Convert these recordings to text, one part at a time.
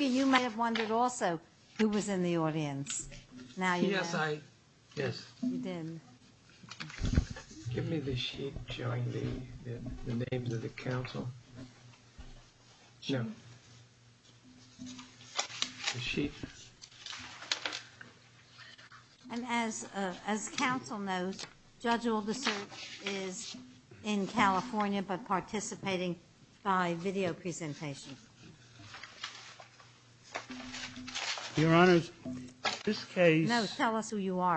you may have wondered also who was in the audience. Now, yes, I did. Give me the sheet showing the names of the council. She. And as as council knows, judge oldest is in California, but participating by video presentation. Your Honor, this case, tell us who you are.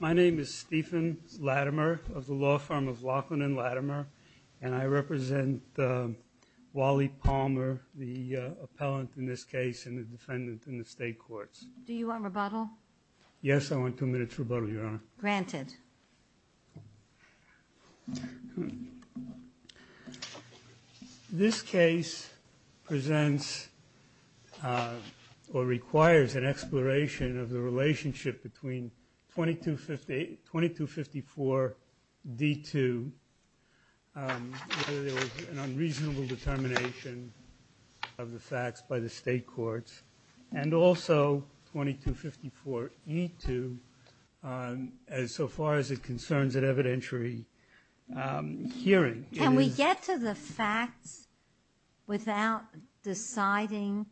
My name is Stephen Latimer of the law firm of Laughlin and Latimer, and I represent Wally Palmer, the appellant in this case, and the defendant in the state courts. Do you want rebuttal? Yes, I want two minutes rebuttal, Your Honor. Granted. This case presents or requires an exploration of the relationship between 2250 2254 D2. There was an unreasonable determination of the facts by the as so far as it concerns an evidentiary hearing. Can we get to the facts without deciding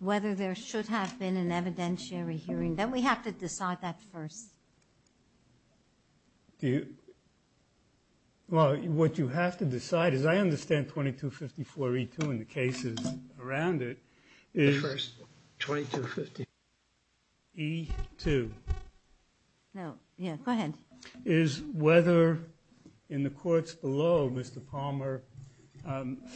whether there should have been an evidentiary hearing that we have to decide that first? Well, what you have to decide is I understand 2254 E2 in the cases around it. First, 2250 E2. No, yeah, go ahead. Is whether in the courts below Mr. Palmer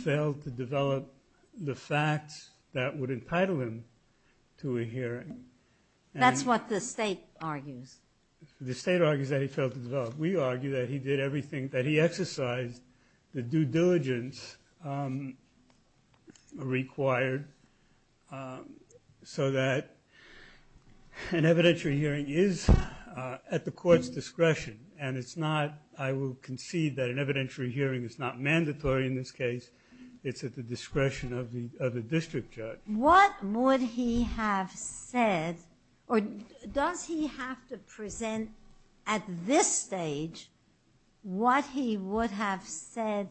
failed to develop the facts that would entitle him to a hearing. That's what the state argues. The state argues that he failed to develop. We argue that he did everything that he exercised the due diligence required so that an evidentiary hearing is at the court's discretion, and it's not I will concede that an evidentiary hearing is not mandatory in this case. It's at the discretion of the district judge. What would he have said or does he have to present at this stage what he would have said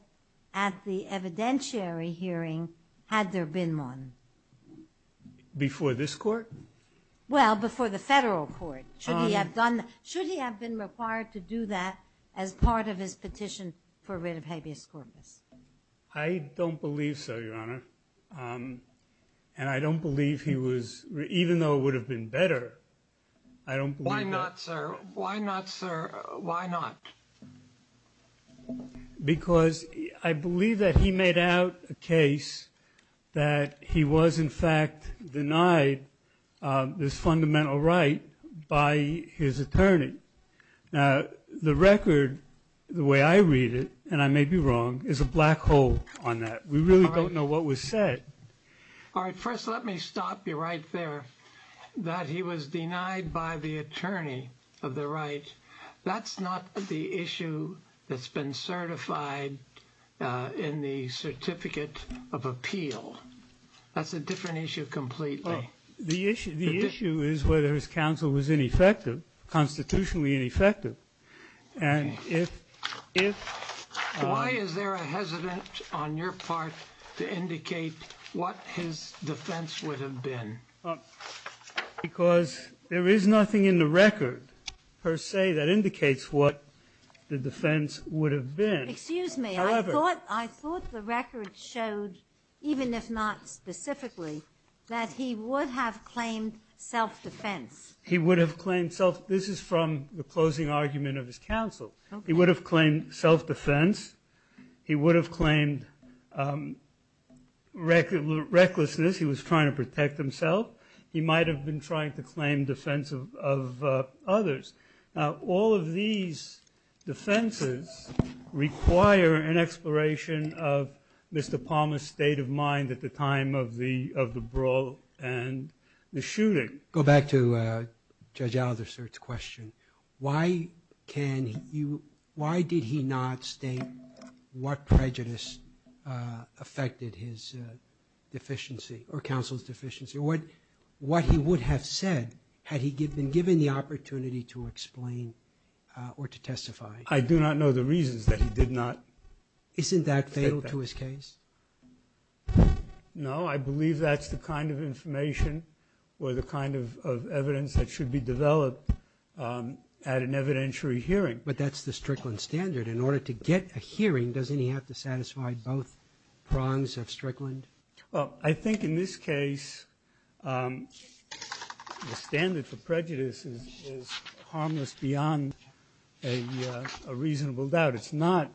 at the evidentiary hearing had there been one? Before this court? Well, before the federal court. Should he have done, should he have been required to do that as part of his petition for rid of habeas corpus? I don't believe so, Your Honor, and I don't believe he was, even though it would have been better. I don't. Why not, sir? Why not, sir? Why not? Because I believe that he made out a case that he was in fact denied this fundamental right by his attorney. Now, the record, the way I read it, and I may be wrong, is a black hole on that. We really don't know what was said. All right, first let me stop you right there that he was denied by the attorney of the right. That's not the issue that's been certified in the certificate of appeal. That's a different issue completely. The issue, the issue is whether his counsel was ineffective, constitutionally ineffective, and if, if. Why is there a hesitant on your part to indicate what his defense would have been? Because there is nothing in the record, per se, that indicates what the defense would have been. Excuse me, I thought, I thought the record showed, even if not specifically, that he would have claimed self-defense. He would have claimed self-defense. This is from the closing argument of his counsel. He would have claimed self-defense. He would have claimed recklessness. He was trying to protect himself. He might have been trying to claim defense of others. Now, all of these defenses require an exploration of Mr. Palmer's state of mind at the time of the, of the brawl and the shooting. Go back to Judge Alderson's question. Why can you, why did he not state what prejudice affected his deficiency, or counsel's deficiency, or what, what he would have said had he been given the opportunity to explain or to testify? I do not know the reasons that he did not. Isn't that fatal to his case? No, I believe that's the kind of information or the kind of evidence that should be developed at an evidentiary hearing. But that's the Strickland standard. In order to get a hearing, doesn't he have to satisfy both prongs of Strickland? Well, I think in this case, the standard for prejudice is harmless beyond a reasonable doubt. It's not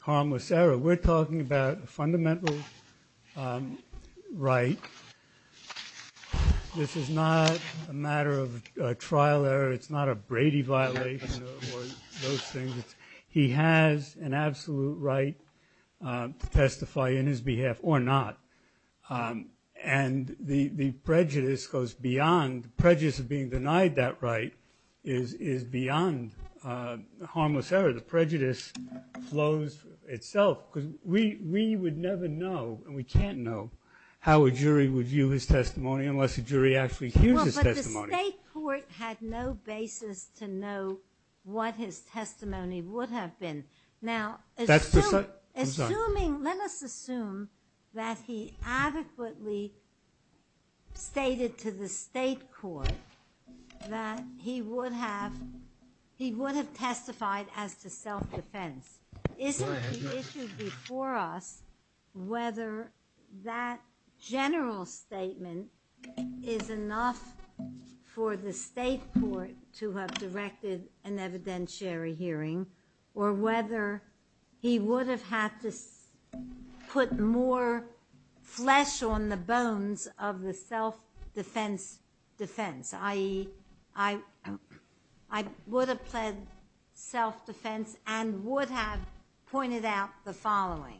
harmless error. We're talking about a fundamental right. This is not a matter of trial error. It's not a Brady violation or those things. He has an absolute right to testify in his behalf or not. And the prejudice goes beyond, prejudice of being denied that right is, is beyond harmless error. The prejudice flows itself because we, we would never know and we can't know how a jury would view his testimony unless a jury actually hears his testimony. Well, but the state court had no basis to know what his testimony would have been. Now, assuming, let us assume that he adequately stated to the state court that he would have, he would have testified as to self-defense. Isn't the issue before us whether that general statement is enough for the state court to have directed an evidentiary hearing? Or whether he would have had to put more flesh on the bones of the self-defense defense? I, I, I would have pled self-defense and would have pointed out the following.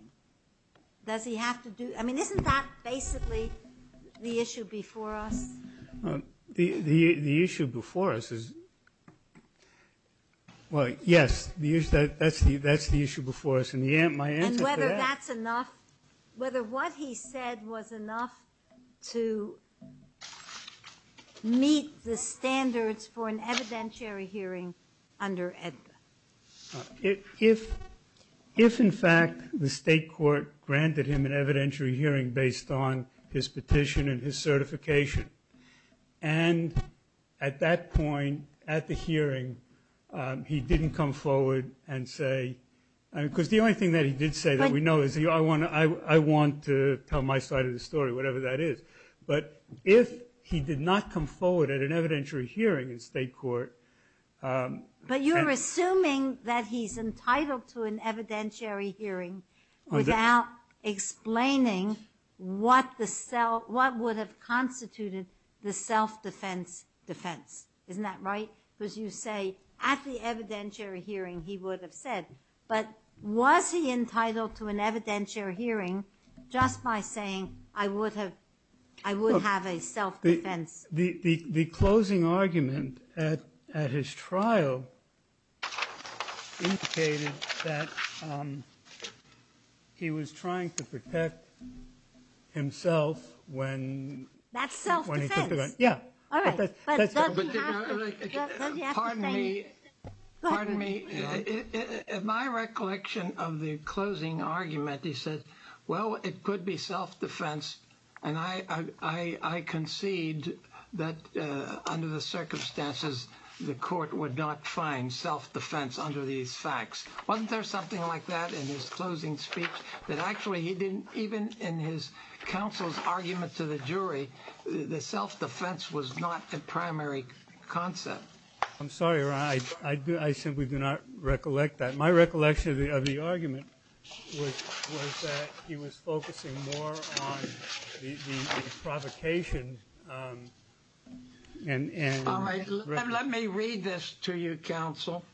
Does he have to do, I mean, isn't that basically the issue before us? The, the, the issue before us is, well, yes, that's the, that's the issue before us. And whether that's enough, whether what he said was enough to meet the standards for an evidentiary hearing under EDPA? If, if, if in fact the state court granted him an evidentiary hearing based on his petition and his certification, and at that point, at the hearing, he didn't come forward and say, because the only thing that he did say that we know is he, I want to, I, I want to tell my side of the story, whatever that is. But if he did not come forward at an evidentiary hearing in state court, But you're assuming that he's entitled to an evidentiary hearing without explaining what the self, what would have constituted the self-defense defense. Isn't that right? Because you say, at the evidentiary hearing, he would have said. But was he entitled to an evidentiary hearing just by saying, I would have, I would have a self-defense? The, the, the closing argument at, at his trial indicated that he was trying to protect himself when. That's self-defense. Yeah. All right. But doesn't have to, doesn't have to say. Pardon me, pardon me. In my recollection of the closing argument, he said, well, it could be self-defense. And I, I, I concede that under the circumstances, the court would not find self-defense under these facts. Wasn't there something like that in his closing speech? That actually he didn't, even in his counsel's argument to the jury, the self-defense was not a primary concept. I'm sorry, Ron. I do, I simply do not recollect that. My recollection of the argument was, was that he was focusing more on the, the provocation and. All right. Let me read this to you, counsel.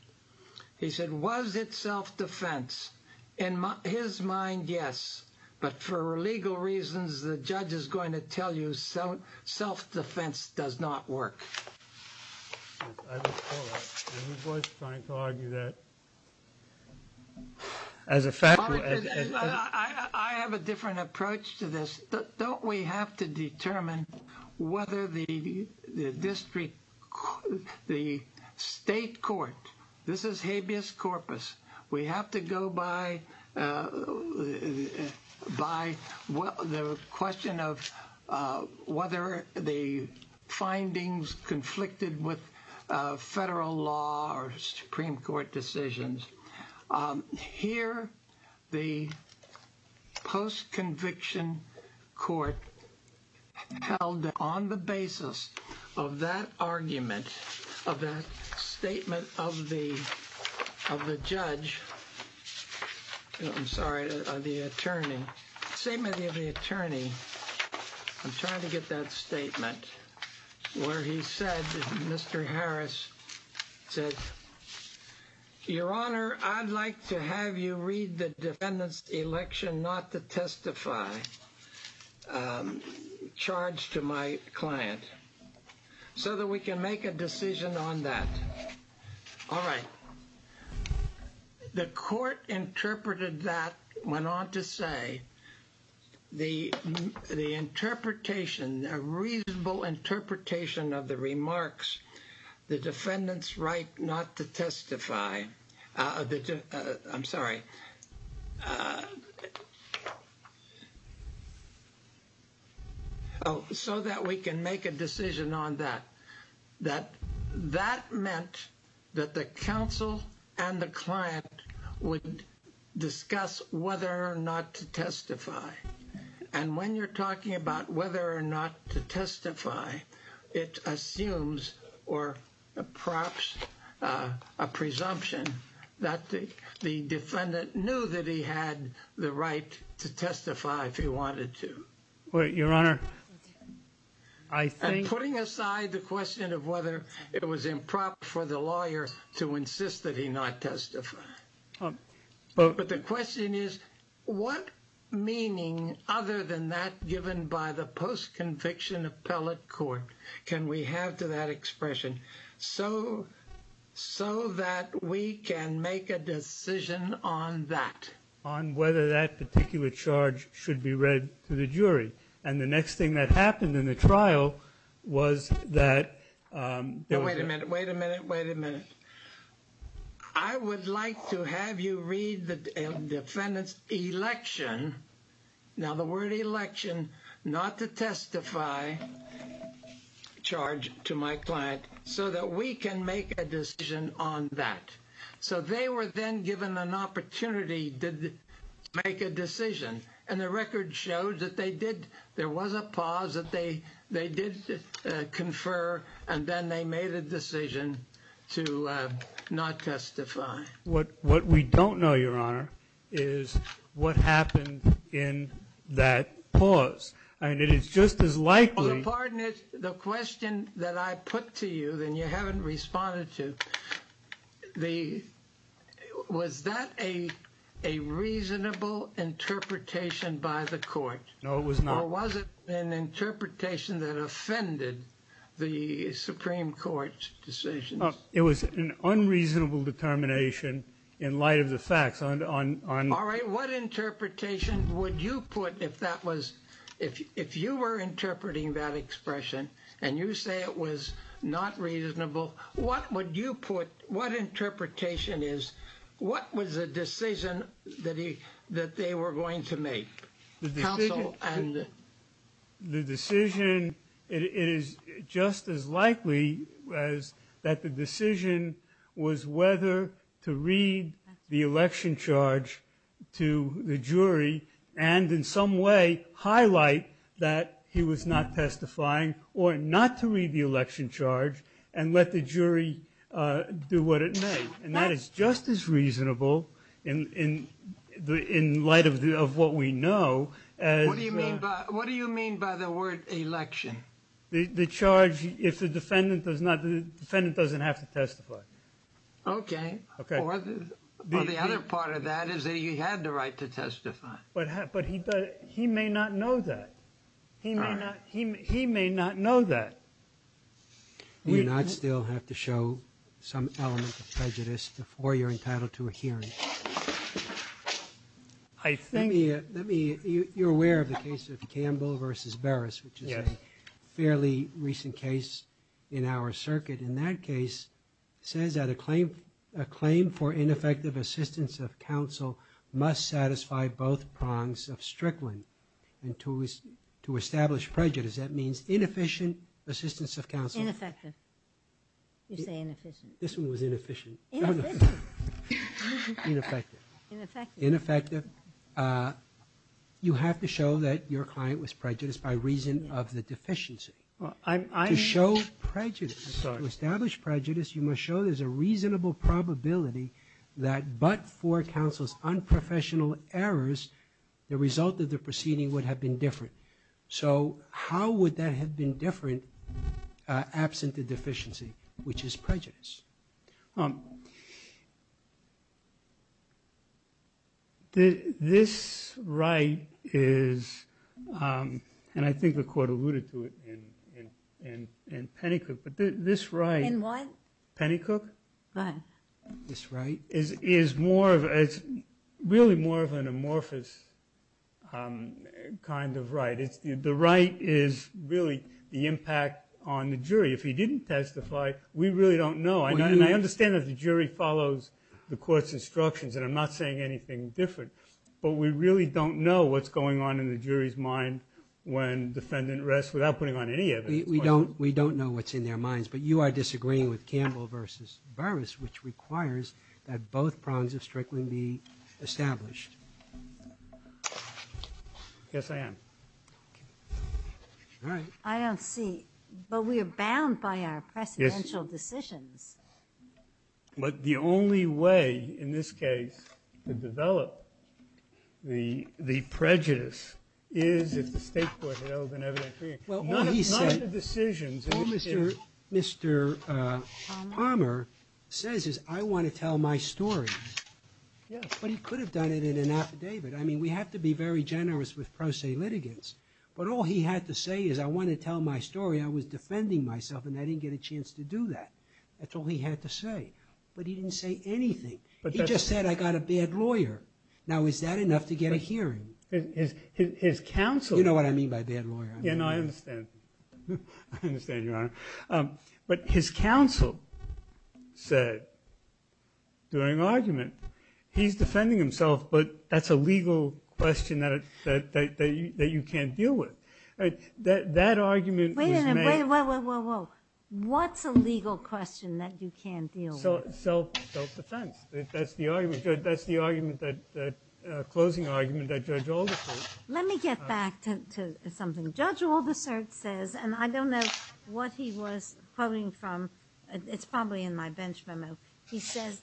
He said, was it self-defense? In his mind, yes. But for legal reasons, the judge is going to tell you self, self-defense does not work. And he was trying to argue that as a fact. I have a different approach to this. Don't we have to determine whether the district, the state court. This is habeas corpus. We have to go by, by the question of whether the findings conflicted with federal law or Supreme Court decisions. Here, the post-conviction court held on the basis of that argument, of that statement of the, of the judge. I'm sorry, the attorney. The statement of the attorney. I'm trying to get that statement. Where he said, Mr. Harris said, Your Honor, I'd like to have you read the defendant's election not to testify. Charged to my client. So that we can make a decision on that. All right. The court interpreted that, went on to say. The interpretation, a reasonable interpretation of the remarks. The defendant's right not to testify. I'm sorry. So that we can make a decision on that. That, that meant that the counsel and the client would discuss whether or not to testify. And when you're talking about whether or not to testify. It assumes or perhaps a presumption that the defendant knew that he had the right to testify if he wanted to. Your Honor. I think. Putting aside the question of whether it was improper for the lawyer to insist that he not testify. But the question is, what meaning other than that given by the post-conviction appellate court can we have to that expression? So, so that we can make a decision on that. On whether that particular charge should be read to the jury. And the next thing that happened in the trial was that. Wait a minute. Wait a minute. Wait a minute. I would like to have you read the defendant's election. Now the word election. Not to testify. Charge to my client. So that we can make a decision on that. So they were then given an opportunity to make a decision. And the record shows that they did. There was a pause that they did confer. And then they made a decision to not testify. What we don't know, Your Honor, is what happened in that pause. And it is just as likely. Pardon it. The question that I put to you that you haven't responded to. Was that a reasonable interpretation by the court? No, it was not. Or was it an interpretation that offended the Supreme Court's decision? It was an unreasonable determination in light of the facts. All right. What interpretation would you put if that was. If you were interpreting that expression. And you say it was not reasonable. What would you put. What interpretation is. What was the decision that they were going to make? Counsel. The decision. It is just as likely. As that the decision was whether to read the election charge to the jury. And in some way highlight that he was not testifying. Or not to read the election charge. And let the jury do what it may. And that is just as reasonable. In light of what we know. What do you mean by the word election? The charge. If the defendant doesn't have to testify. Okay. The other part of that is that he had the right to testify. But he may not know that. He may not know that. We do not still have to show some element of prejudice. Before you are entitled to a hearing. I think. You are aware of the case of Campbell versus Barris. Which is a fairly recent case in our circuit. In that case. It says that a claim for ineffective assistance of counsel. Must satisfy both prongs of Strickland. And to establish prejudice. That means inefficient assistance of counsel. Ineffective. You say inefficient. This one was inefficient. Ineffective. Ineffective. You have to show that your client was prejudiced. By reason of the deficiency. To show prejudice. To establish prejudice. You must show there is a reasonable probability. That but for counsel's unprofessional errors. The result of the proceeding would have been different. How would that have been different? Absent the deficiency. Which is prejudice. This right. Is. I think the court alluded to it. In Penacook. This right. Penacook. This right. Is really more of an amorphous. Kind of right. The right. Is really the impact on the jury. If he didn't testify. We really don't know. I understand the jury follows the court's instructions. I'm not saying anything different. We really don't know what is going on in the jury's mind. When the defendant rests. Without putting on any evidence. We don't know what is in their minds. You are disagreeing with Campbell versus Burris. Which requires that both prongs of Strickland. Be established. Yes, I am. All right. I don't see. But we are bound by our presidential decisions. But the only way. In this case. To develop. The prejudice. Is. Not the decisions. Mr. Palmer. Says. I want to tell my story. Yes. But he could have done it in an affidavit. We have to be very generous with pro se litigants. But all he had to say is. I want to tell my story. I was defending myself. And I didn't get a chance to do that. That's all he had to say. But he didn't say anything. He just said I got a bad lawyer. Now is that enough to get a hearing? You know what I mean by bad lawyer. I understand. But his counsel. Said. During argument. He's defending himself. But that's a legal question. That you can't deal with. That argument. Wait a minute. What's a legal question that you can't deal with? Self-defense. That's the argument. That's the closing argument. Let me get back to something. Judge Aldersart says. And I don't know what he was quoting from. It's probably in my bench memo. He says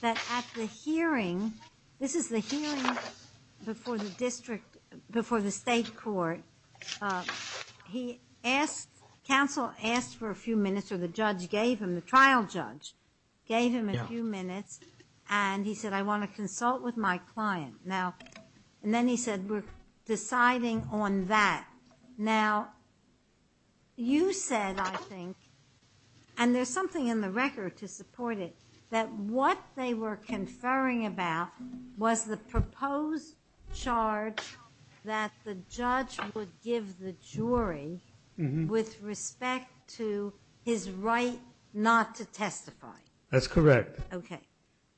that at the hearing. This is the hearing. Before the district. Before the state court. He asked. Counsel asked for a few minutes. Or the judge gave him. The trial judge gave him a few minutes. And he said I want to consult with my client. Now. And then he said we're deciding on that. Now. You said I think. And there's something in the record. To support it. That what they were conferring about. Was the proposed charge. That the judge. Would give the jury. With respect to. His right not to testify. That's correct. Okay.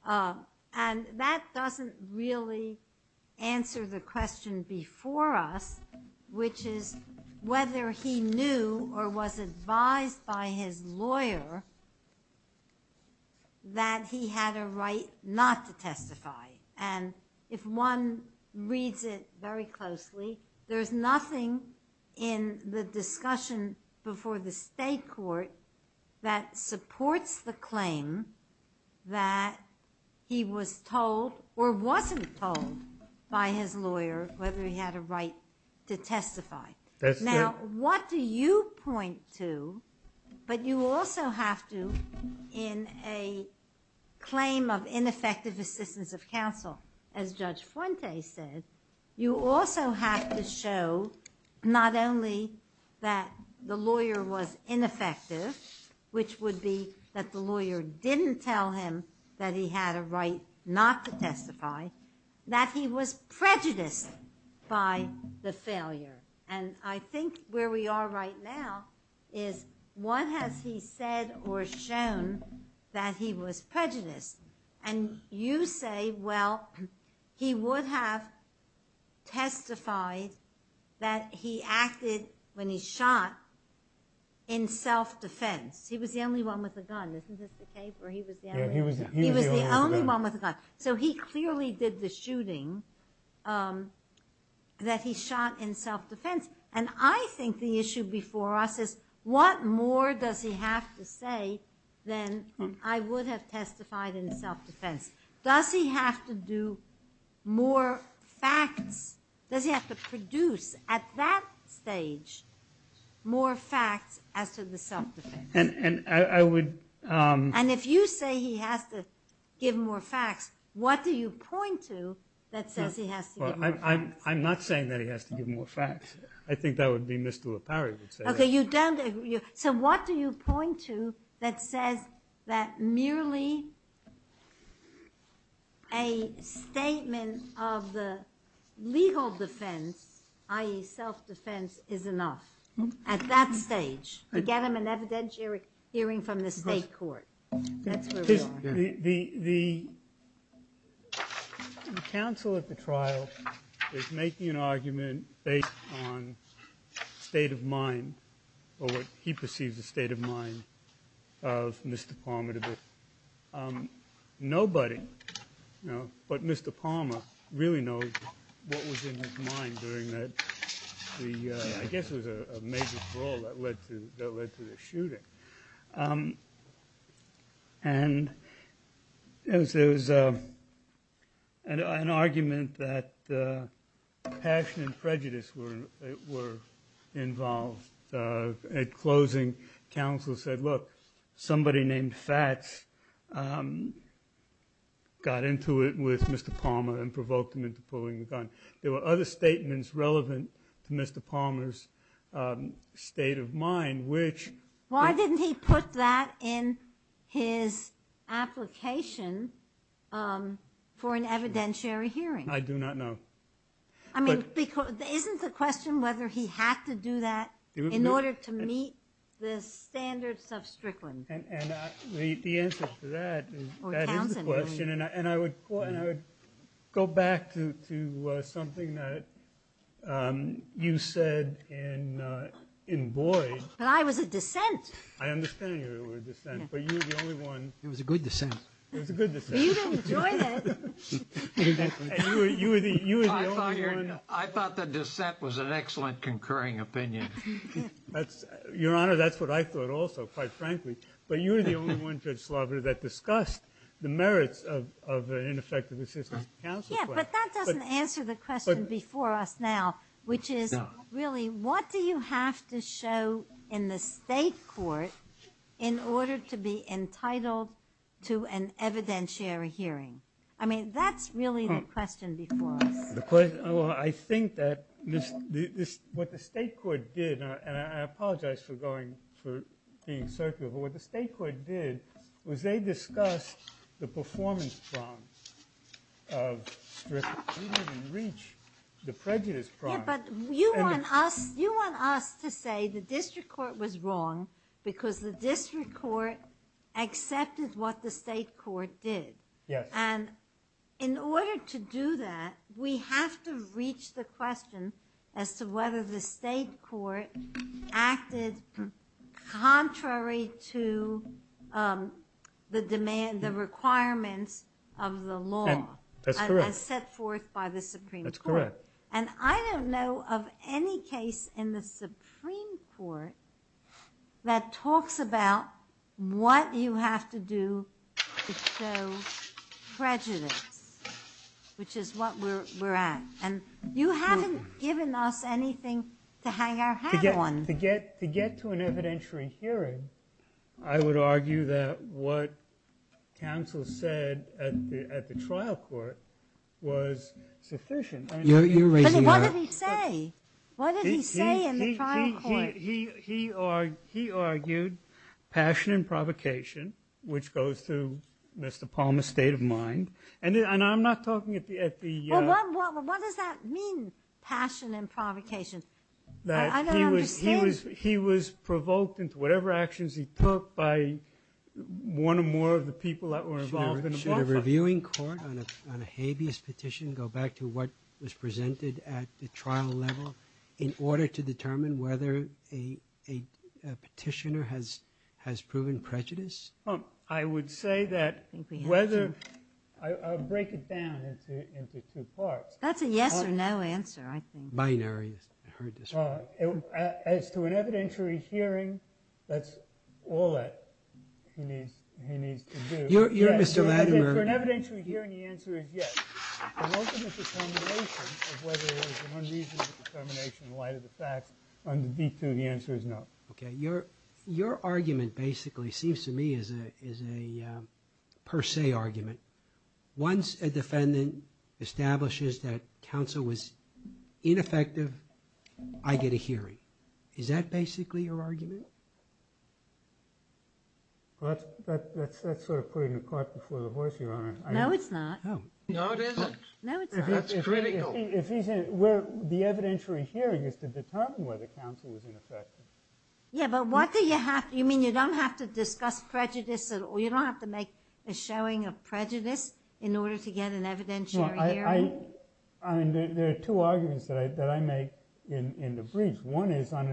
And that doesn't really. Answer the question before us. Which is. Whether he knew. Or was advised by his lawyer. That he had a right. Not to testify. And if one reads it. Very closely. There's nothing. In the discussion. Before the state court. That supports the claim. That he was told. Or wasn't told. By his lawyer. Whether he had a right. To testify. Now what do you point to. But you also have to. In a. Claim of ineffective. Assistance of counsel. As judge Fuente said. You also have to show. Not only. That the lawyer was ineffective. Which would be. That the lawyer didn't tell him. That he had a right. Not to testify. That he was prejudiced. By the failure. And I think where we are right now. Is what has he said. Or shown. That he was prejudiced. And you say well. He would have. Testified. That he acted. When he shot. In self defense. He was the only one with a gun. He was the only one with a gun. So he clearly did the shooting. That he shot in self defense. And I think the issue before us. Is what more does he have to say. Than I would have testified. In self defense. Does he have to do. More facts. Does he have to produce. At that stage. More facts. As to the self defense. And if you say he has to. Give more facts. What do you point to. That says he has to give more facts. I'm not saying that he has to give more facts. I think that would be Mr. Lapari. So what do you point to. That says. That merely. A statement. Of the. Legal defense. I.e. self defense is enough. At that stage. To get him an evidentiary hearing. From the state court. The. The. Counsel at the trial. Is making an argument. Based on. State of mind. Or what he perceives the state of mind. Of Mr. Palmer. Nobody. But Mr. Palmer. Really knows. What was in his mind. During that. I guess it was a major brawl. That led to the shooting. And. There was. An argument. That. Passion and prejudice were. Involved. At closing. Counsel said look. Somebody named Fats. Got into it. With Mr. Palmer. And provoked him into pulling the gun. There were other statements relevant. To Mr. Palmer's. State of mind which. Why didn't he put that in. His. Application. For an evidentiary hearing. I do not know. I mean. Isn't the question whether he had to do that. In order to meet. The standards of Strickland. The answer to that. Is the question. And I would. Go back to something that. You said. In Boyd. But I was a dissent. I understand you were a dissent. But you were the only one. It was a good dissent. You didn't enjoy that. I thought the dissent. Was an excellent concurring opinion. Your honor. That's what I thought also. Quite frankly. But you were the only one. That discussed the merits. Of ineffective assistance. But that doesn't answer the question. Before us now. Which is really. What do you have to show. In the state court. In order to be entitled. To an evidentiary hearing. I mean that's really the question. Before us. I think that. What the state court did. And I apologize for going. For being circular. But what the state court did. Was they discussed. The performance problem. Of. The prejudice problem. You want us to say. The district court was wrong. Because the district court. Accepted what the state court did. Yes. In order to do that. We have to reach the question. As to whether the state court. Acted. Contrary to. The demand. The requirements. Of the law. As set forth by the supreme court. And I don't know of any case. In the supreme court. That talks about. What you have to do. To show. Prejudice. Which is what we're at. And you haven't given us anything. To hang our hat on. To get to an evidentiary hearing. I would argue that. What counsel said. At the trial court. Was sufficient. What did he say? What did he say in the trial court? He argued. Passion and provocation. Which goes through. Mr. Palmer's state of mind. And I'm not talking at the. What does that mean? Passion and provocation. I don't understand. He was provoked. Into whatever actions he took. By one or more of the people. That were involved. Should a reviewing court. On a habeas petition. Go back to what was presented. At the trial level. In order to determine. Whether a petitioner. Has proven prejudice. I would say that. I'll break it down. Into two parts. That's a yes or no answer. Binary. As to an evidentiary hearing. That's all that. He needs to do. For an evidentiary hearing. The answer is yes. Whether it was. One reason. In light of the facts. The answer is no. Your argument basically. Seems to me. Is a per se argument. Once a defendant. Establishes that counsel. Was ineffective. I get a hearing. Is that basically your argument? That's sort of. Putting a cart before the horse. No it's not. That's critical. The evidentiary hearing. Is to determine whether counsel. Was ineffective. You don't have to discuss prejudice. You don't have to make. A showing of prejudice. In order to get an evidentiary hearing. There are two arguments. That I make. In the brief. One is on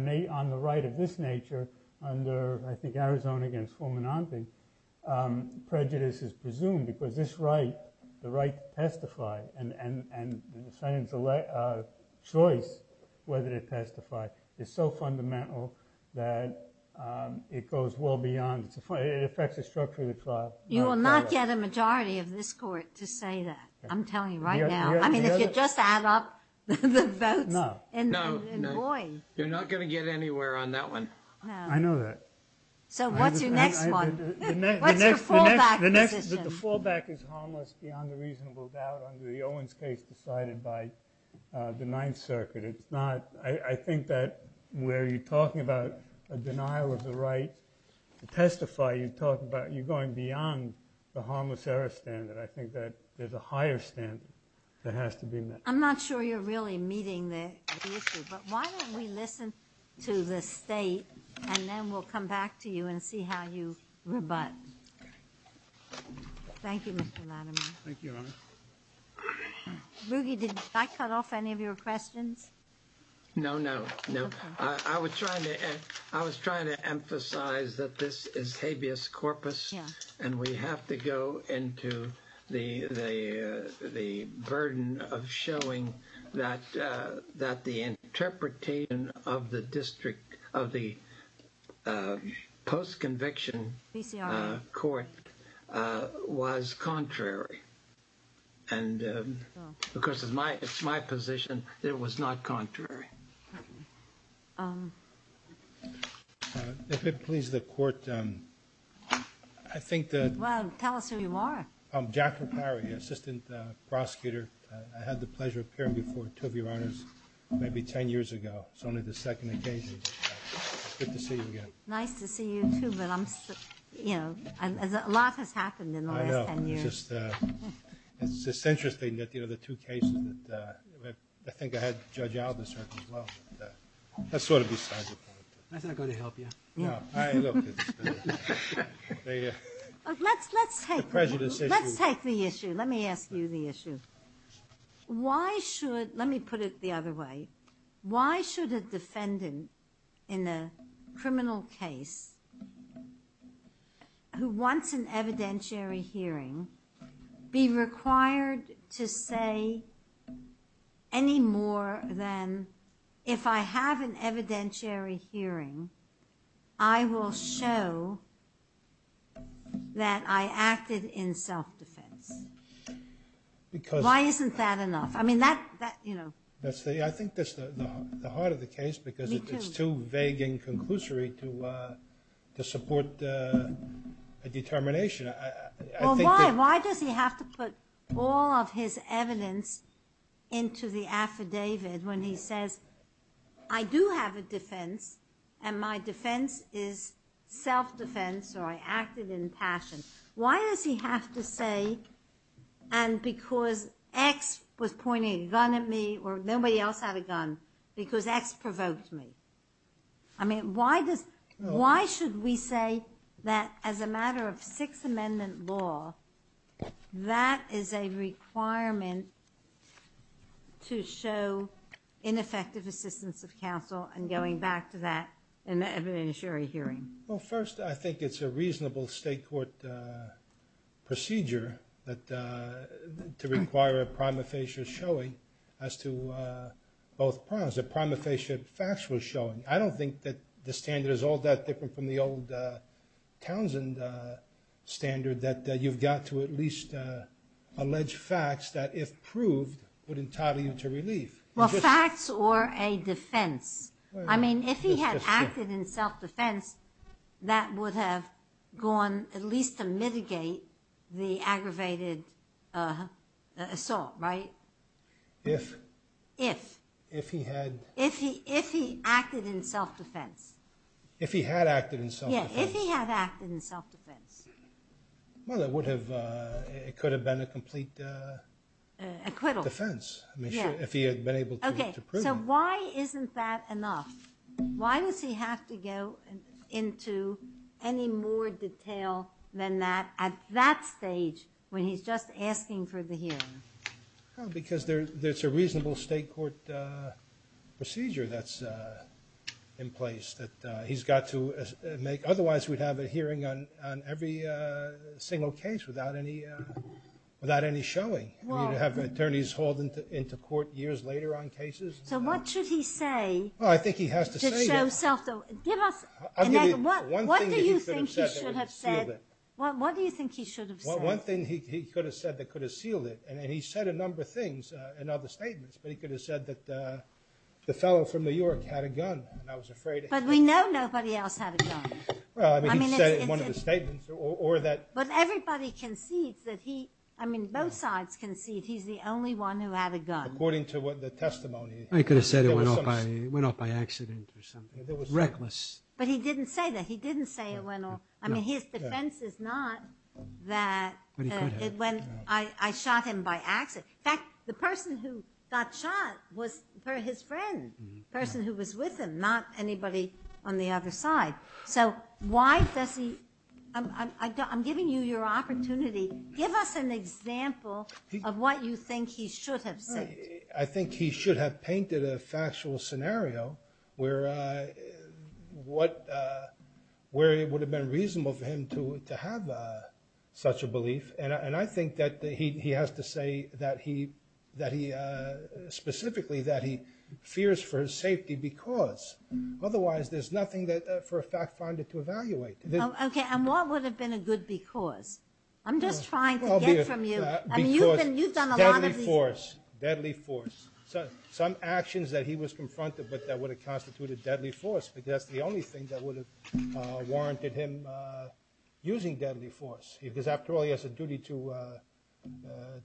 the right of this nature. Under Arizona against. Prejudice is presumed. Because this right. The right to testify. And the choice. Whether to testify. Is so fundamental. That it goes well beyond. It affects the structure of the trial. You will not get a majority of this court. To say that. I'm telling you right now. I mean if you just add up the votes. No. You're not going to get anywhere on that one. I know that. So what's your next one? The fall back is harmless. Beyond a reasonable doubt. Under the Owens case. Decided by the ninth circuit. It's not. I think that where you're talking about. A denial of the right. To testify. You're going beyond the harmless error standard. I think that there's a higher standard. That has to be met. I'm not sure you're really meeting the issue. But why don't we listen. To the state. And then we'll come back to you. And see how you rebut. Thank you Mr. Latimer. Thank you. Did I cut off any of your questions? No. No. I was trying to emphasize. That this is habeas corpus. And we have to go into. The burden. Of showing. That the interpretation. Of the district. Of the. Post conviction. Court. Was contrary. And. Because it's my position. That it was not contrary. If it pleases the court. I think that. Well tell us who you are. I'm Jack. Assistant prosecutor. I had the pleasure of appearing before two of you. Maybe ten years ago. It's only the second occasion. Nice to see you too. A lot has happened in the last ten years. I know. It's interesting. The two cases. I think I had Judge Alderson as well. That's sort of besides the point. Can I go to help you? No. Let's take the issue. Let me ask you the issue. Why should. Let me put it the other way. Why should a defendant. In a criminal case. Who wants. An evidentiary hearing. Be required. To say. Any more than. If I have an evidentiary. Hearing. I will show. That I acted. In self defense. Because. Why isn't that enough? I think that's the heart of the case. Me too. It's too vague and conclusory. To support. A determination. Why does he have to put. All of his evidence. Into the affidavit. When he says. I do have a defense. And my defense is self defense. Or I acted in passion. Why does he have to say. And because. X was pointing a gun at me. Or nobody else had a gun. Because X provoked me. I mean why does. Why should we say. That as a matter of. Six amendment law. That is a requirement. To show. Ineffective assistance of counsel. And going back to that. In the evidentiary hearing. Well first I think it's a reasonable. State court. Procedure. To require a prima facie showing. As to both primes. The prima facie facts were showing. I don't think that the standard. Is all that different from the old. Townsend standard. That you've got to at least. Alleged facts that if proved. Would entitle you to relief. Well facts or a defense. I mean if he had acted. In self defense. That would have gone. At least to mitigate. The aggravated. Assault right. If. If he had. If he acted in self defense. If he had acted in self defense. If he had acted in self defense. Well that would have. Could have been a complete. Acquittal. If he had been able to prove. So why isn't that enough. Why does he have to go. Into any more detail. Than that. At that stage. When he's just asking for the hearing. Because there's a reasonable. State court. Procedure that's. In place. That he's got to make. Otherwise we'd have a hearing. On every single case. Without any. Without any showing. Well have attorneys hauled. Into court years later on cases. So what should he say. I think he has to. Give us. What do you think he should have said. What do you think he should have said. One thing he could have said that could have sealed it. And he said a number of things. And other statements. But he could have said that. The fellow from New York had a gun. And I was afraid. But we know nobody else had a gun. Well I mean he said in one of his statements. Or that. But everybody concedes that he. I mean both sides concede. He's the only one who had a gun. According to the testimony. I could have said it went off by accident or something. Reckless. But he didn't say that. He didn't say it went off. I mean his defense is not that. I shot him by accident. In fact the person who got shot. Was his friend. The person who was with him. Not anybody on the other side. So why does he. I'm giving you your opportunity. Give us an example. Of what you think he should have said. I think he should have painted. A factual scenario. Where. What. Where it would have been reasonable for him to have. Such a belief. And I think that he has to say. That he. Specifically that he. Fears for his safety because. Otherwise there's nothing for a fact finder to evaluate. Okay and what would have been a good because. I'm just trying to get from you. Because deadly force. Deadly force. Some actions that he was confronted with. That would have constituted deadly force. Because that's the only thing that would have. Warranted him. Using deadly force. Because after all he has a duty to.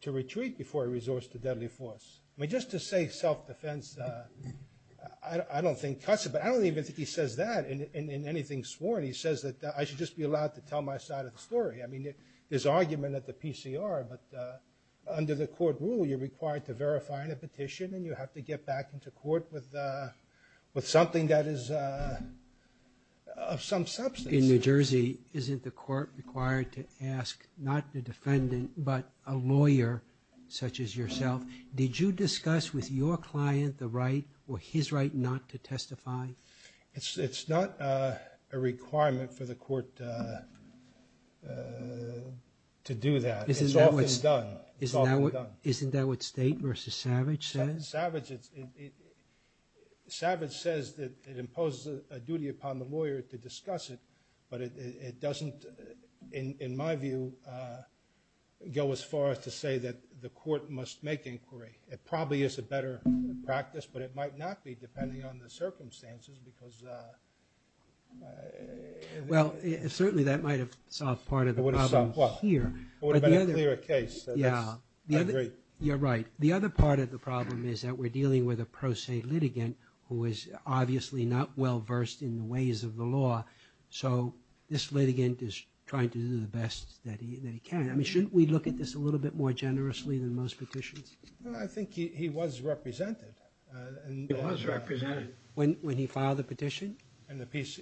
To retreat before he resorts to deadly force. I mean just to say self defense. I don't think cuts it. But I don't even think he says that. In anything sworn he says that. I should just be allowed to tell my side of the story. I mean there's argument at the PCR. But under the court rule. You're required to verify the petition. And you have to get back into court. With something that is. Of some substance. In New Jersey. Isn't the court required to ask. Not the defendant but a lawyer. Such as yourself. Did you discuss with your client. The right or his right not to testify. It's not a requirement. For the court. To do that. It's often done. It's often done. Isn't that what State versus Savage says. Savage it's. Savage says that it imposes. A duty upon the lawyer to discuss it. But it doesn't. In my view. Go as far as to say that. The court must make inquiry. It probably is a better practice. But it might not be. Depending on the circumstances. Because. Well certainly that might have. Solved part of the problem here. It would have been a clearer case. You're right. The other part of the problem. Is that we're dealing with a pro se litigant. Who is obviously not well versed. In the ways of the law. So this litigant is trying to do. The best that he can. I mean shouldn't we look at this. A little bit more generously than most petitions. I think he was represented. He was represented. When he filed the petition. And the piece.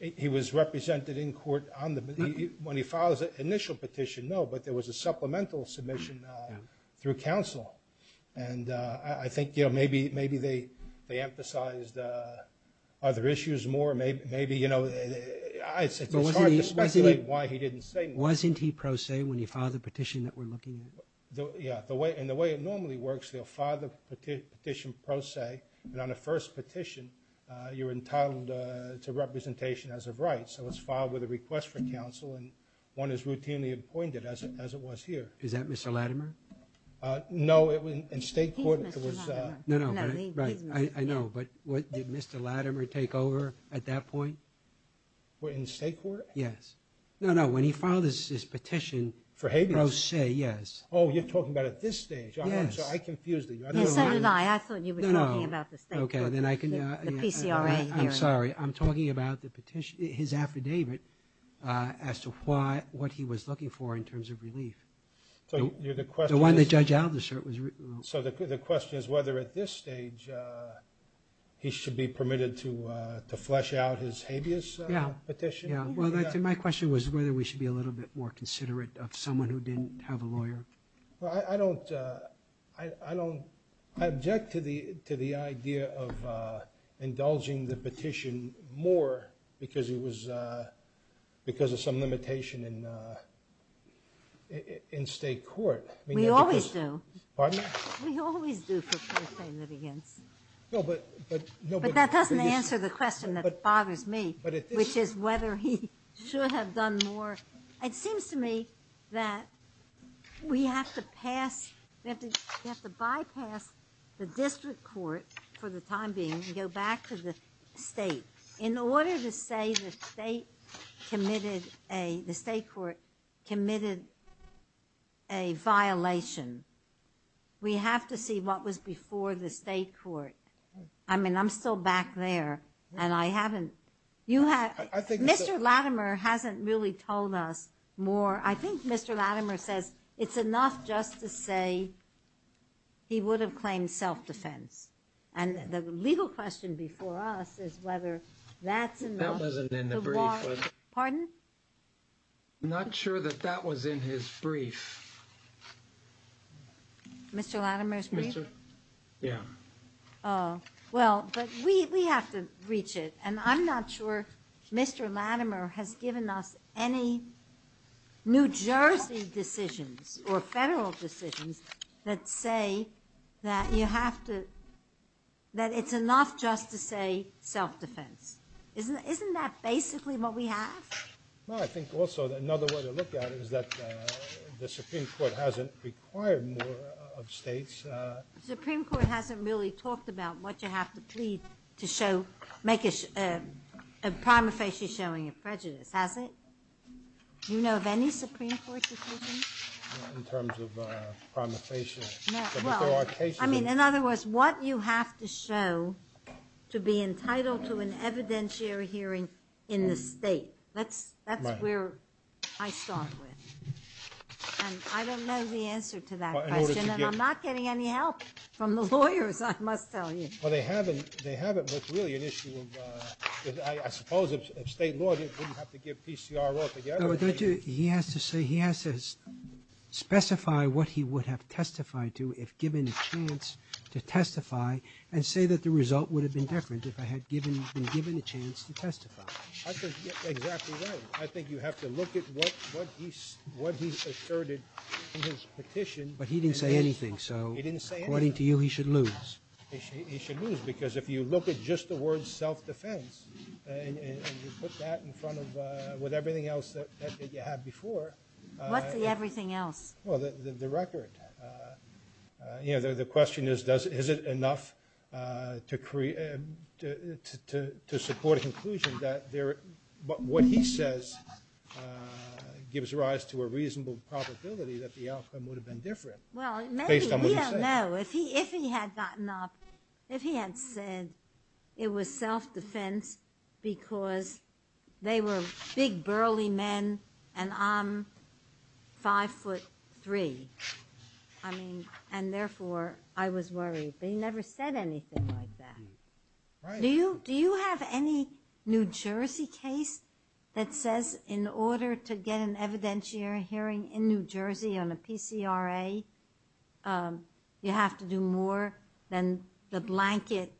He was represented in court. When he filed the initial petition. No but there was a supplemental submission. Through counsel. And I think. Maybe they emphasized. Other issues more. Maybe you know. It's hard to speculate why he didn't say. Wasn't he pro se when he filed the petition. That we're looking at. And the way it normally works. They'll file the petition pro se. And on the first petition. You're entitled to representation. As of right. So it's filed with a request for counsel. And one is routinely appointed. As it was here. Is that Mr. Latimer. No it was in state court. Right I know. But did Mr. Latimer take over at that point. In state court. Yes. No no when he filed his petition. For habeas. Pro se yes. Oh you're talking about at this stage. Yes. I confused you. I thought you were talking about the state court. The PCRA hearing. I'm sorry I'm talking about the petition. His affidavit. As to what he was looking for. In terms of relief. The one that Judge Aldous wrote. So the question is. Whether at this stage. He should be permitted to. To flesh out his habeas petition. Yes. My question was whether we should be a little bit more considerate. Of someone who didn't have a lawyer. I don't. I don't. I object to the idea of. Indulging the petition more. Because it was. Because of some limitation. In state court. We always do. Pardon me. We always do for PCRA litigants. But that doesn't answer the question. That bothers me. Which is whether he should have done more. It seems to me. That we have to pass. We have to bypass. The district court. For the time being. Go back to the state. In order to say the state. Committed a the state court. Committed. A violation. We have to see. What was before the state court. I mean I'm still back there. And I haven't. Mr. Latimer. Hasn't really told us more. I think Mr. Latimer says. It's enough just to say. He would have claimed self-defense. And the legal question. Before us is whether. That wasn't in the brief. Pardon. Not sure that that was in his brief. Mr. Latimer. Yeah. Well. We have to reach it. And I'm not sure Mr. Latimer. Has given us any. New Jersey decisions. Or federal decisions. That say. That you have to. That it's enough just to say. Self-defense. Isn't that basically what we have. Well I think also. Another way to look at it is that. The Supreme Court hasn't required more. Of states. Supreme Court hasn't really talked about. What you have to plead to show. Make a. Prima facie showing a prejudice. Has it? Do you know of any Supreme Court decisions? In terms of prima facie. Well. I mean in other words. What you have to show. To be entitled to an evidentiary hearing. In the state. That's where. I start with. And I don't know the answer to that question. And I'm not getting any help. From the lawyers. I must tell you. Well they haven't. They haven't. With really an issue of. I suppose. If state law didn't have to give PCR altogether. He has to say. He has to. Specify what he would have testified to. If given a chance. To testify. And say that the result would have been different. If I had been given a chance to testify. That's exactly right. I think you have to look at. What he asserted. In his petition. But he didn't say anything. He didn't say anything. According to you he should lose. He should lose. Because if you look at just the word self-defense. And you put that in front of. With everything else. That you had before. What's the everything else? The record. The question is. Is it enough. To support a conclusion. What he says. Gives rise to a reasonable probability. That the outcome would have been different. Based on what he said. If he had gotten up. If he had said. It was self-defense. Because they were big burly men. And I'm. Five foot three. I mean. And therefore I was worried. But he never said anything like that. Do you have any. New Jersey case. That says in order to get. An evidentiary hearing in New Jersey. On a PCRA. You have to do more. Than the blanket.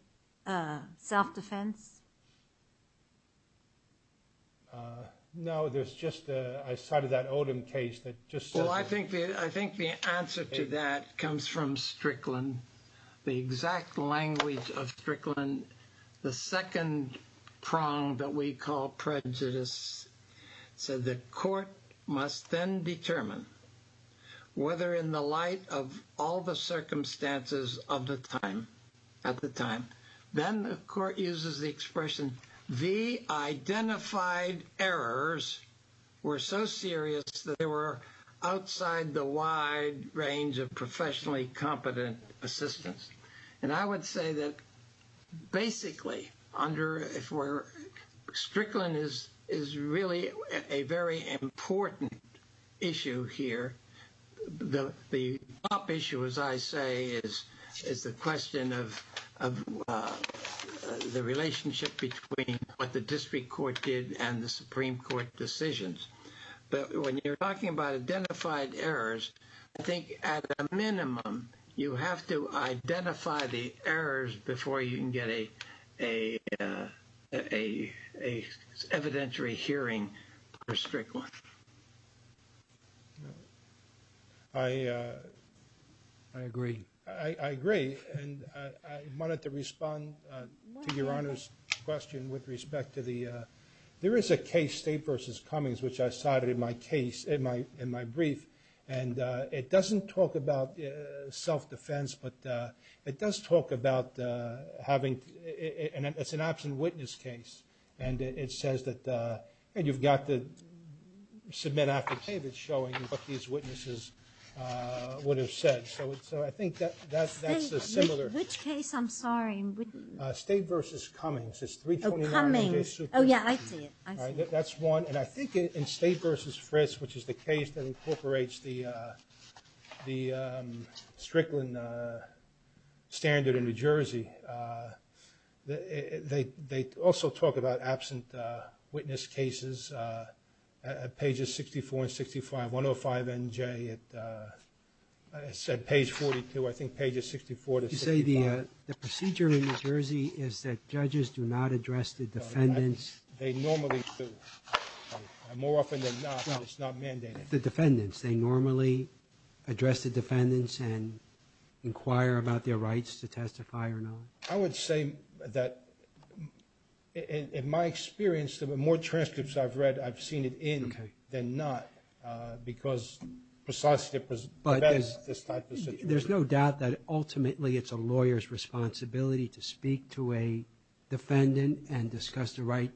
Self-defense. No. There's just. I cited that Odom case. I think the answer to that. Comes from Strickland. The exact language of Strickland. The second prong. That we call prejudice. So the court. Must then determine. Whether in the light. Of all the circumstances. Of the time. At the time. Then the court uses the expression. The identified errors. Were so serious. That they were outside. The wide range of professionally. Competent assistance. And I would say that. Basically under. If we're. Strickland is really. A very important. Issue here. The top issue. As I say. Is the question of. The relationship. Between what the district court. Did and the Supreme Court decisions. But when you're talking about. Identified errors. I think at a minimum. You have to identify the errors. Before you can get a. Evidentiary hearing. For Strickland. I agree. And I wanted to respond. To your honor's question. With respect to the. There is a case state versus Cummings. Which I cited in my case. In my brief. And it doesn't talk about. Self-defense. But it does talk about. Having. It's an absent witness case. And it says that. And you've got the. Submit affidavits showing. What these witnesses. Would have said. So I think that. That's the similar. Which case I'm sorry. State versus Cummings. It's 329. Oh yeah. That's one. And I think in state versus Fritz. Which is the case that incorporates the. The Strickland. Standard in New Jersey. They also talk about absent. Witness cases. At pages 64 and 65. 105 NJ. It said page 42. I think pages 64 to 65. The procedure in New Jersey. Is that judges do not address the defendants. They normally do. More often than not. It's not mandated. The defendants. They normally address the defendants. And inquire about their rights. To testify or not. I would say that. In my experience. The more transcripts I've read. I've seen it in. Then not. Because precisely. But. There's no doubt that ultimately. It's a lawyer's responsibility. To speak to a defendant. And discuss the right.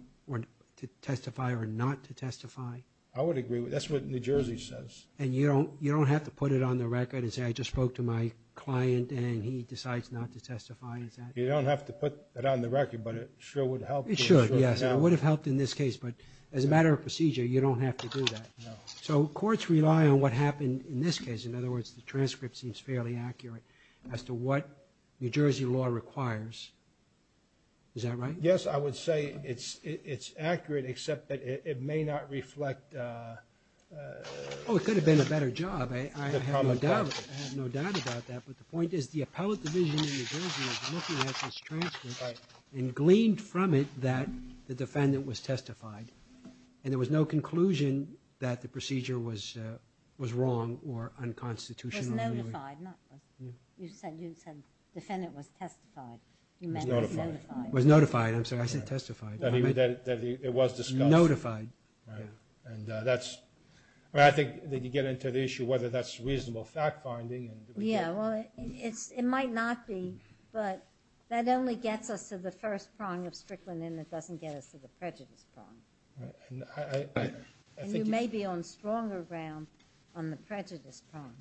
To testify or not to testify. I would agree with. That's what New Jersey says. And you don't have to put it on the record. And say I just spoke to my client. And he decides not to testify. You don't have to put it on the record. But it sure would help. It would have helped in this case. But as a matter of procedure. You don't have to do that. So courts rely on what happened. In this case. In other words. The transcript seems fairly accurate. As to what New Jersey law requires. Is that right? Yes. I would say it's accurate. Except that it may not reflect. It could have been a better job. I have no doubt about that. But the point is. The appellate division in New Jersey. Is looking at this transcript. And gleaned from it. That the defendant was testified. And there was no conclusion. That the procedure was wrong. Or unconstitutional. Was notified. You said the defendant was testified. Notified. I said testified. Notified. I think you get into the issue. Whether that's reasonable fact finding. It might not be. But that only gets us. To the first prong of Strickland. And it doesn't get us to the prejudice prong. You may be on stronger ground. On the prejudice prong.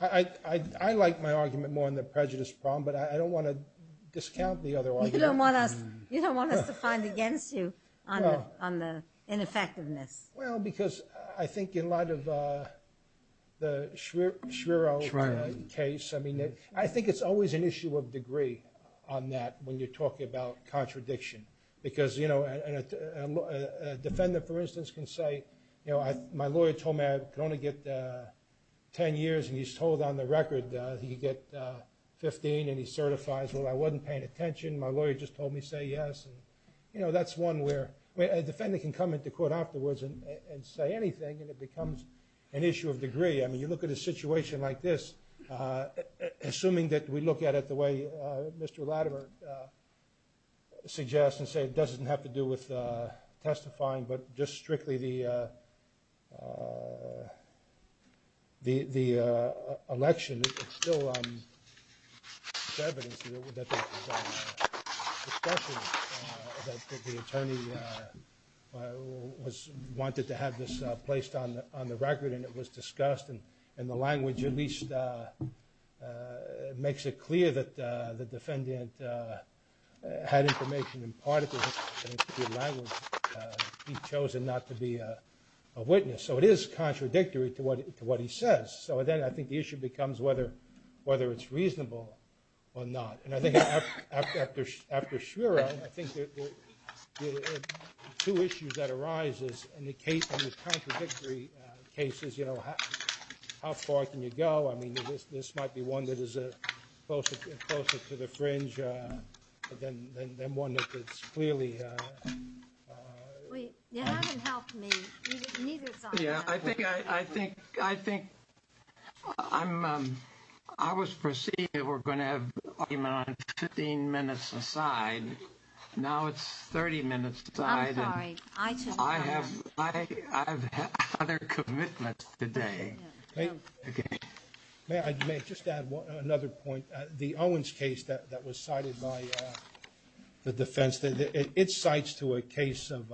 I like my argument. More on the prejudice prong. But I don't want to discount the other argument. You don't want us to find against you. On the ineffectiveness. Because I think. In light of. The Schreier case. I think it's always an issue of degree. On that. When you talk about contradiction. Because you know. A defendant for instance. Can say. My lawyer told me. I can only get 10 years. And he's told on the record. He can get 15. And he certifies. I wasn't paying attention. My lawyer just told me say yes. That's one where. A defendant can come into court afterwards. And say anything. And it becomes an issue of degree. You look at a situation like this. Assuming that we look at it. The way Mr. Latimer. Suggests and says. It doesn't have to do with testifying. But just strictly the. The election. It's still. Evidence. That. The attorney. Was. Wanted to have this. Placed on the record. And it was discussed. And the language at least. Makes it clear that. The defendant. Had information in part. Language. He's chosen not to be a witness. So it is contradictory. To what he says. So then I think the issue becomes whether. Whether it's reasonable. Or not and I think. After. I think. Two issues that arises. In the case of the contradictory. Cases you know. How far can you go I mean. This might be one that is. Closer to the fringe. Then one that's clearly. Yeah. I think. I think. I'm. I was proceeding. We're going to have. 15 minutes aside. Now it's 30 minutes. I have. Other commitments. Today. May I just add. Another point the Owens case. That was cited by. The defense. It cites to a case of.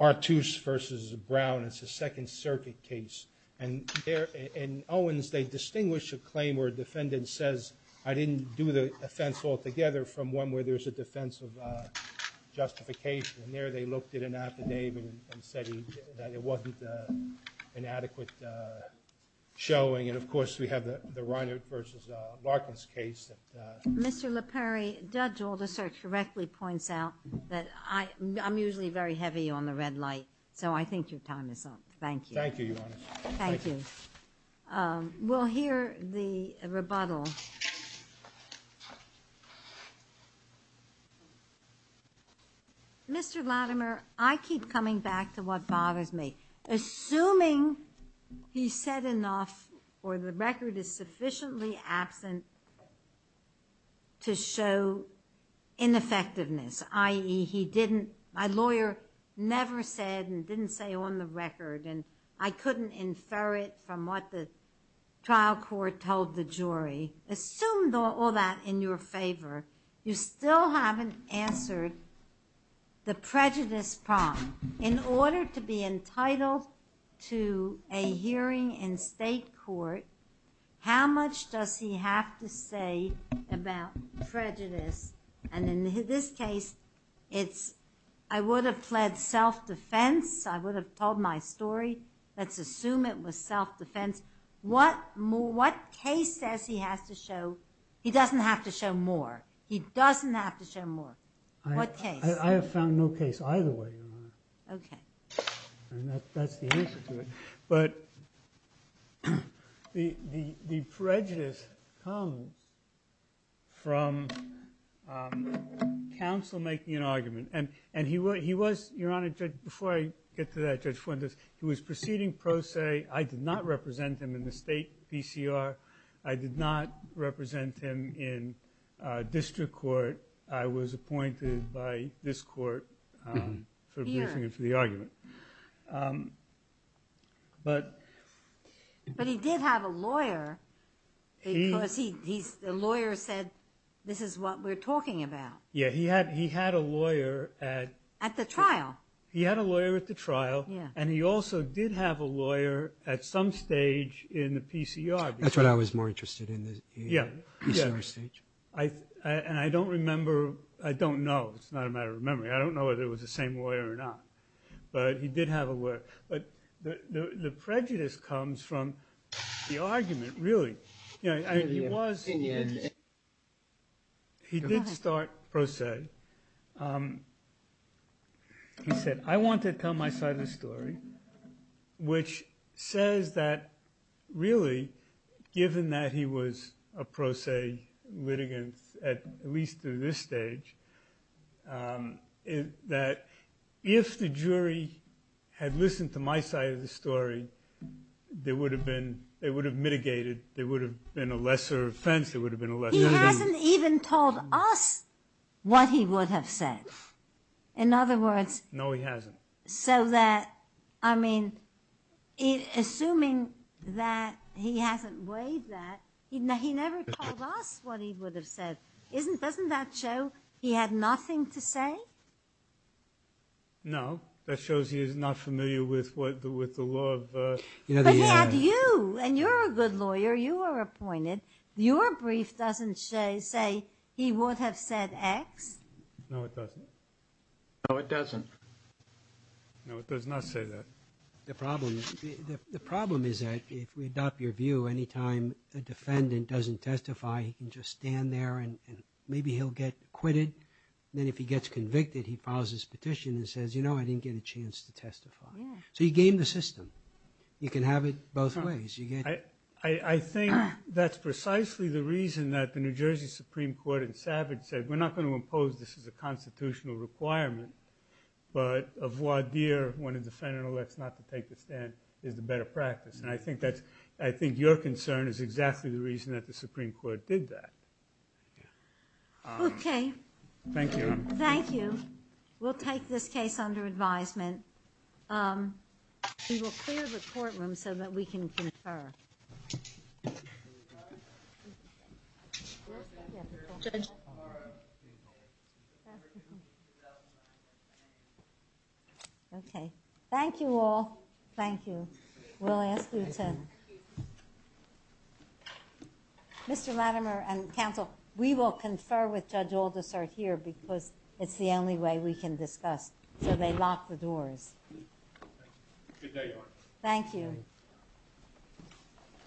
R2 versus Brown. It's a second circuit case. And there in Owens. They distinguish a claim where a defendant says. I didn't do the offense. Altogether from one where there's a defensive. Justification. And there they looked at an affidavit. And said that it wasn't. An adequate. Showing and of course we have the. Ryan versus. Mr. Perry judge all the search correctly points out. That I. I'm usually very heavy on the red light. So I think your time is up. Thank you. Thank you. We'll hear the rebuttal. Mr. Latimer. I keep coming back to what bothers me. Assuming. He said enough. Or the record is sufficiently absent. To show. In effectiveness IE. He didn't my lawyer. Never said and didn't say on the record. And I couldn't infer it from. What the. Trial court told the jury assumed. All that in your favor. You still haven't answered. The prejudice. In order to be entitled. To a hearing. In state court. How much does he have to say. About prejudice. And in this case. It's. I would have fled self-defense. I would have told my story. Let's assume it was self-defense. What more what case says. He has to show. He doesn't have to show more. He doesn't have to show more. I have found no case. Either way. But. The prejudice. From. Counsel making an argument. And he was he was. Before I get to that. He was proceeding pro se. I did not represent him in the state. PCR I did not. Represent him in. District court. I was appointed by this court. For the argument. But. But he did have a lawyer. Because he's a lawyer said. This is what we're talking about. Yeah he had he had a lawyer. At the trial. He had a lawyer at the trial. And he also did have a lawyer. At some stage in the PCR. That's what I was more interested in. Yeah. And I don't remember. I don't know. It's not a matter of memory. I don't know whether it was the same lawyer or not. But he did have a lawyer. But the prejudice comes from. The argument really. He was. He did start pro se. He said. I want to tell my side of the story. Which says that. Really. Given that he was. A pro se litigant. At least to this stage. That. If the jury. Had listened to my side of the story. There would have been. They would have mitigated. There would have been a lesser offense. It would have been a lesson. He hasn't even told us. What he would have said. In other words. No, he hasn't. So that. I mean. Assuming that. He hasn't weighed that. He never told us what he would have said. Isn't doesn't that show. He had nothing to say. No. That shows he is not familiar with. With the law. And you're a good lawyer. You are appointed. Your brief doesn't say. He would have said X. No, it doesn't. No, it doesn't. No, it does not say that. The problem. The problem is that if we adopt your view. Anytime a defendant doesn't testify. He can just stand there. And maybe he'll get quitted. Then if he gets convicted. He files his petition and says. You know, I didn't get a chance to testify. So you game the system. You can have it both ways. I think that's precisely the reason. That the New Jersey Supreme Court. And Savage said, we're not going to impose. This is a constitutional requirement. But of what dear. When a defendant elects not to take the stand. Is the better practice. And I think that's. I think your concern is exactly the reason. That the Supreme Court did that. Okay. Thank you. Thank you. We'll take this case under advisement. We will clear the courtroom. So that we can confer. Okay. Thank you all. Thank you. We'll ask you to. Mr. Latimer and counsel. We will confer with judge oldest are here. Because it's the only way we can discuss. So they locked the doors. Thank you. Thank you.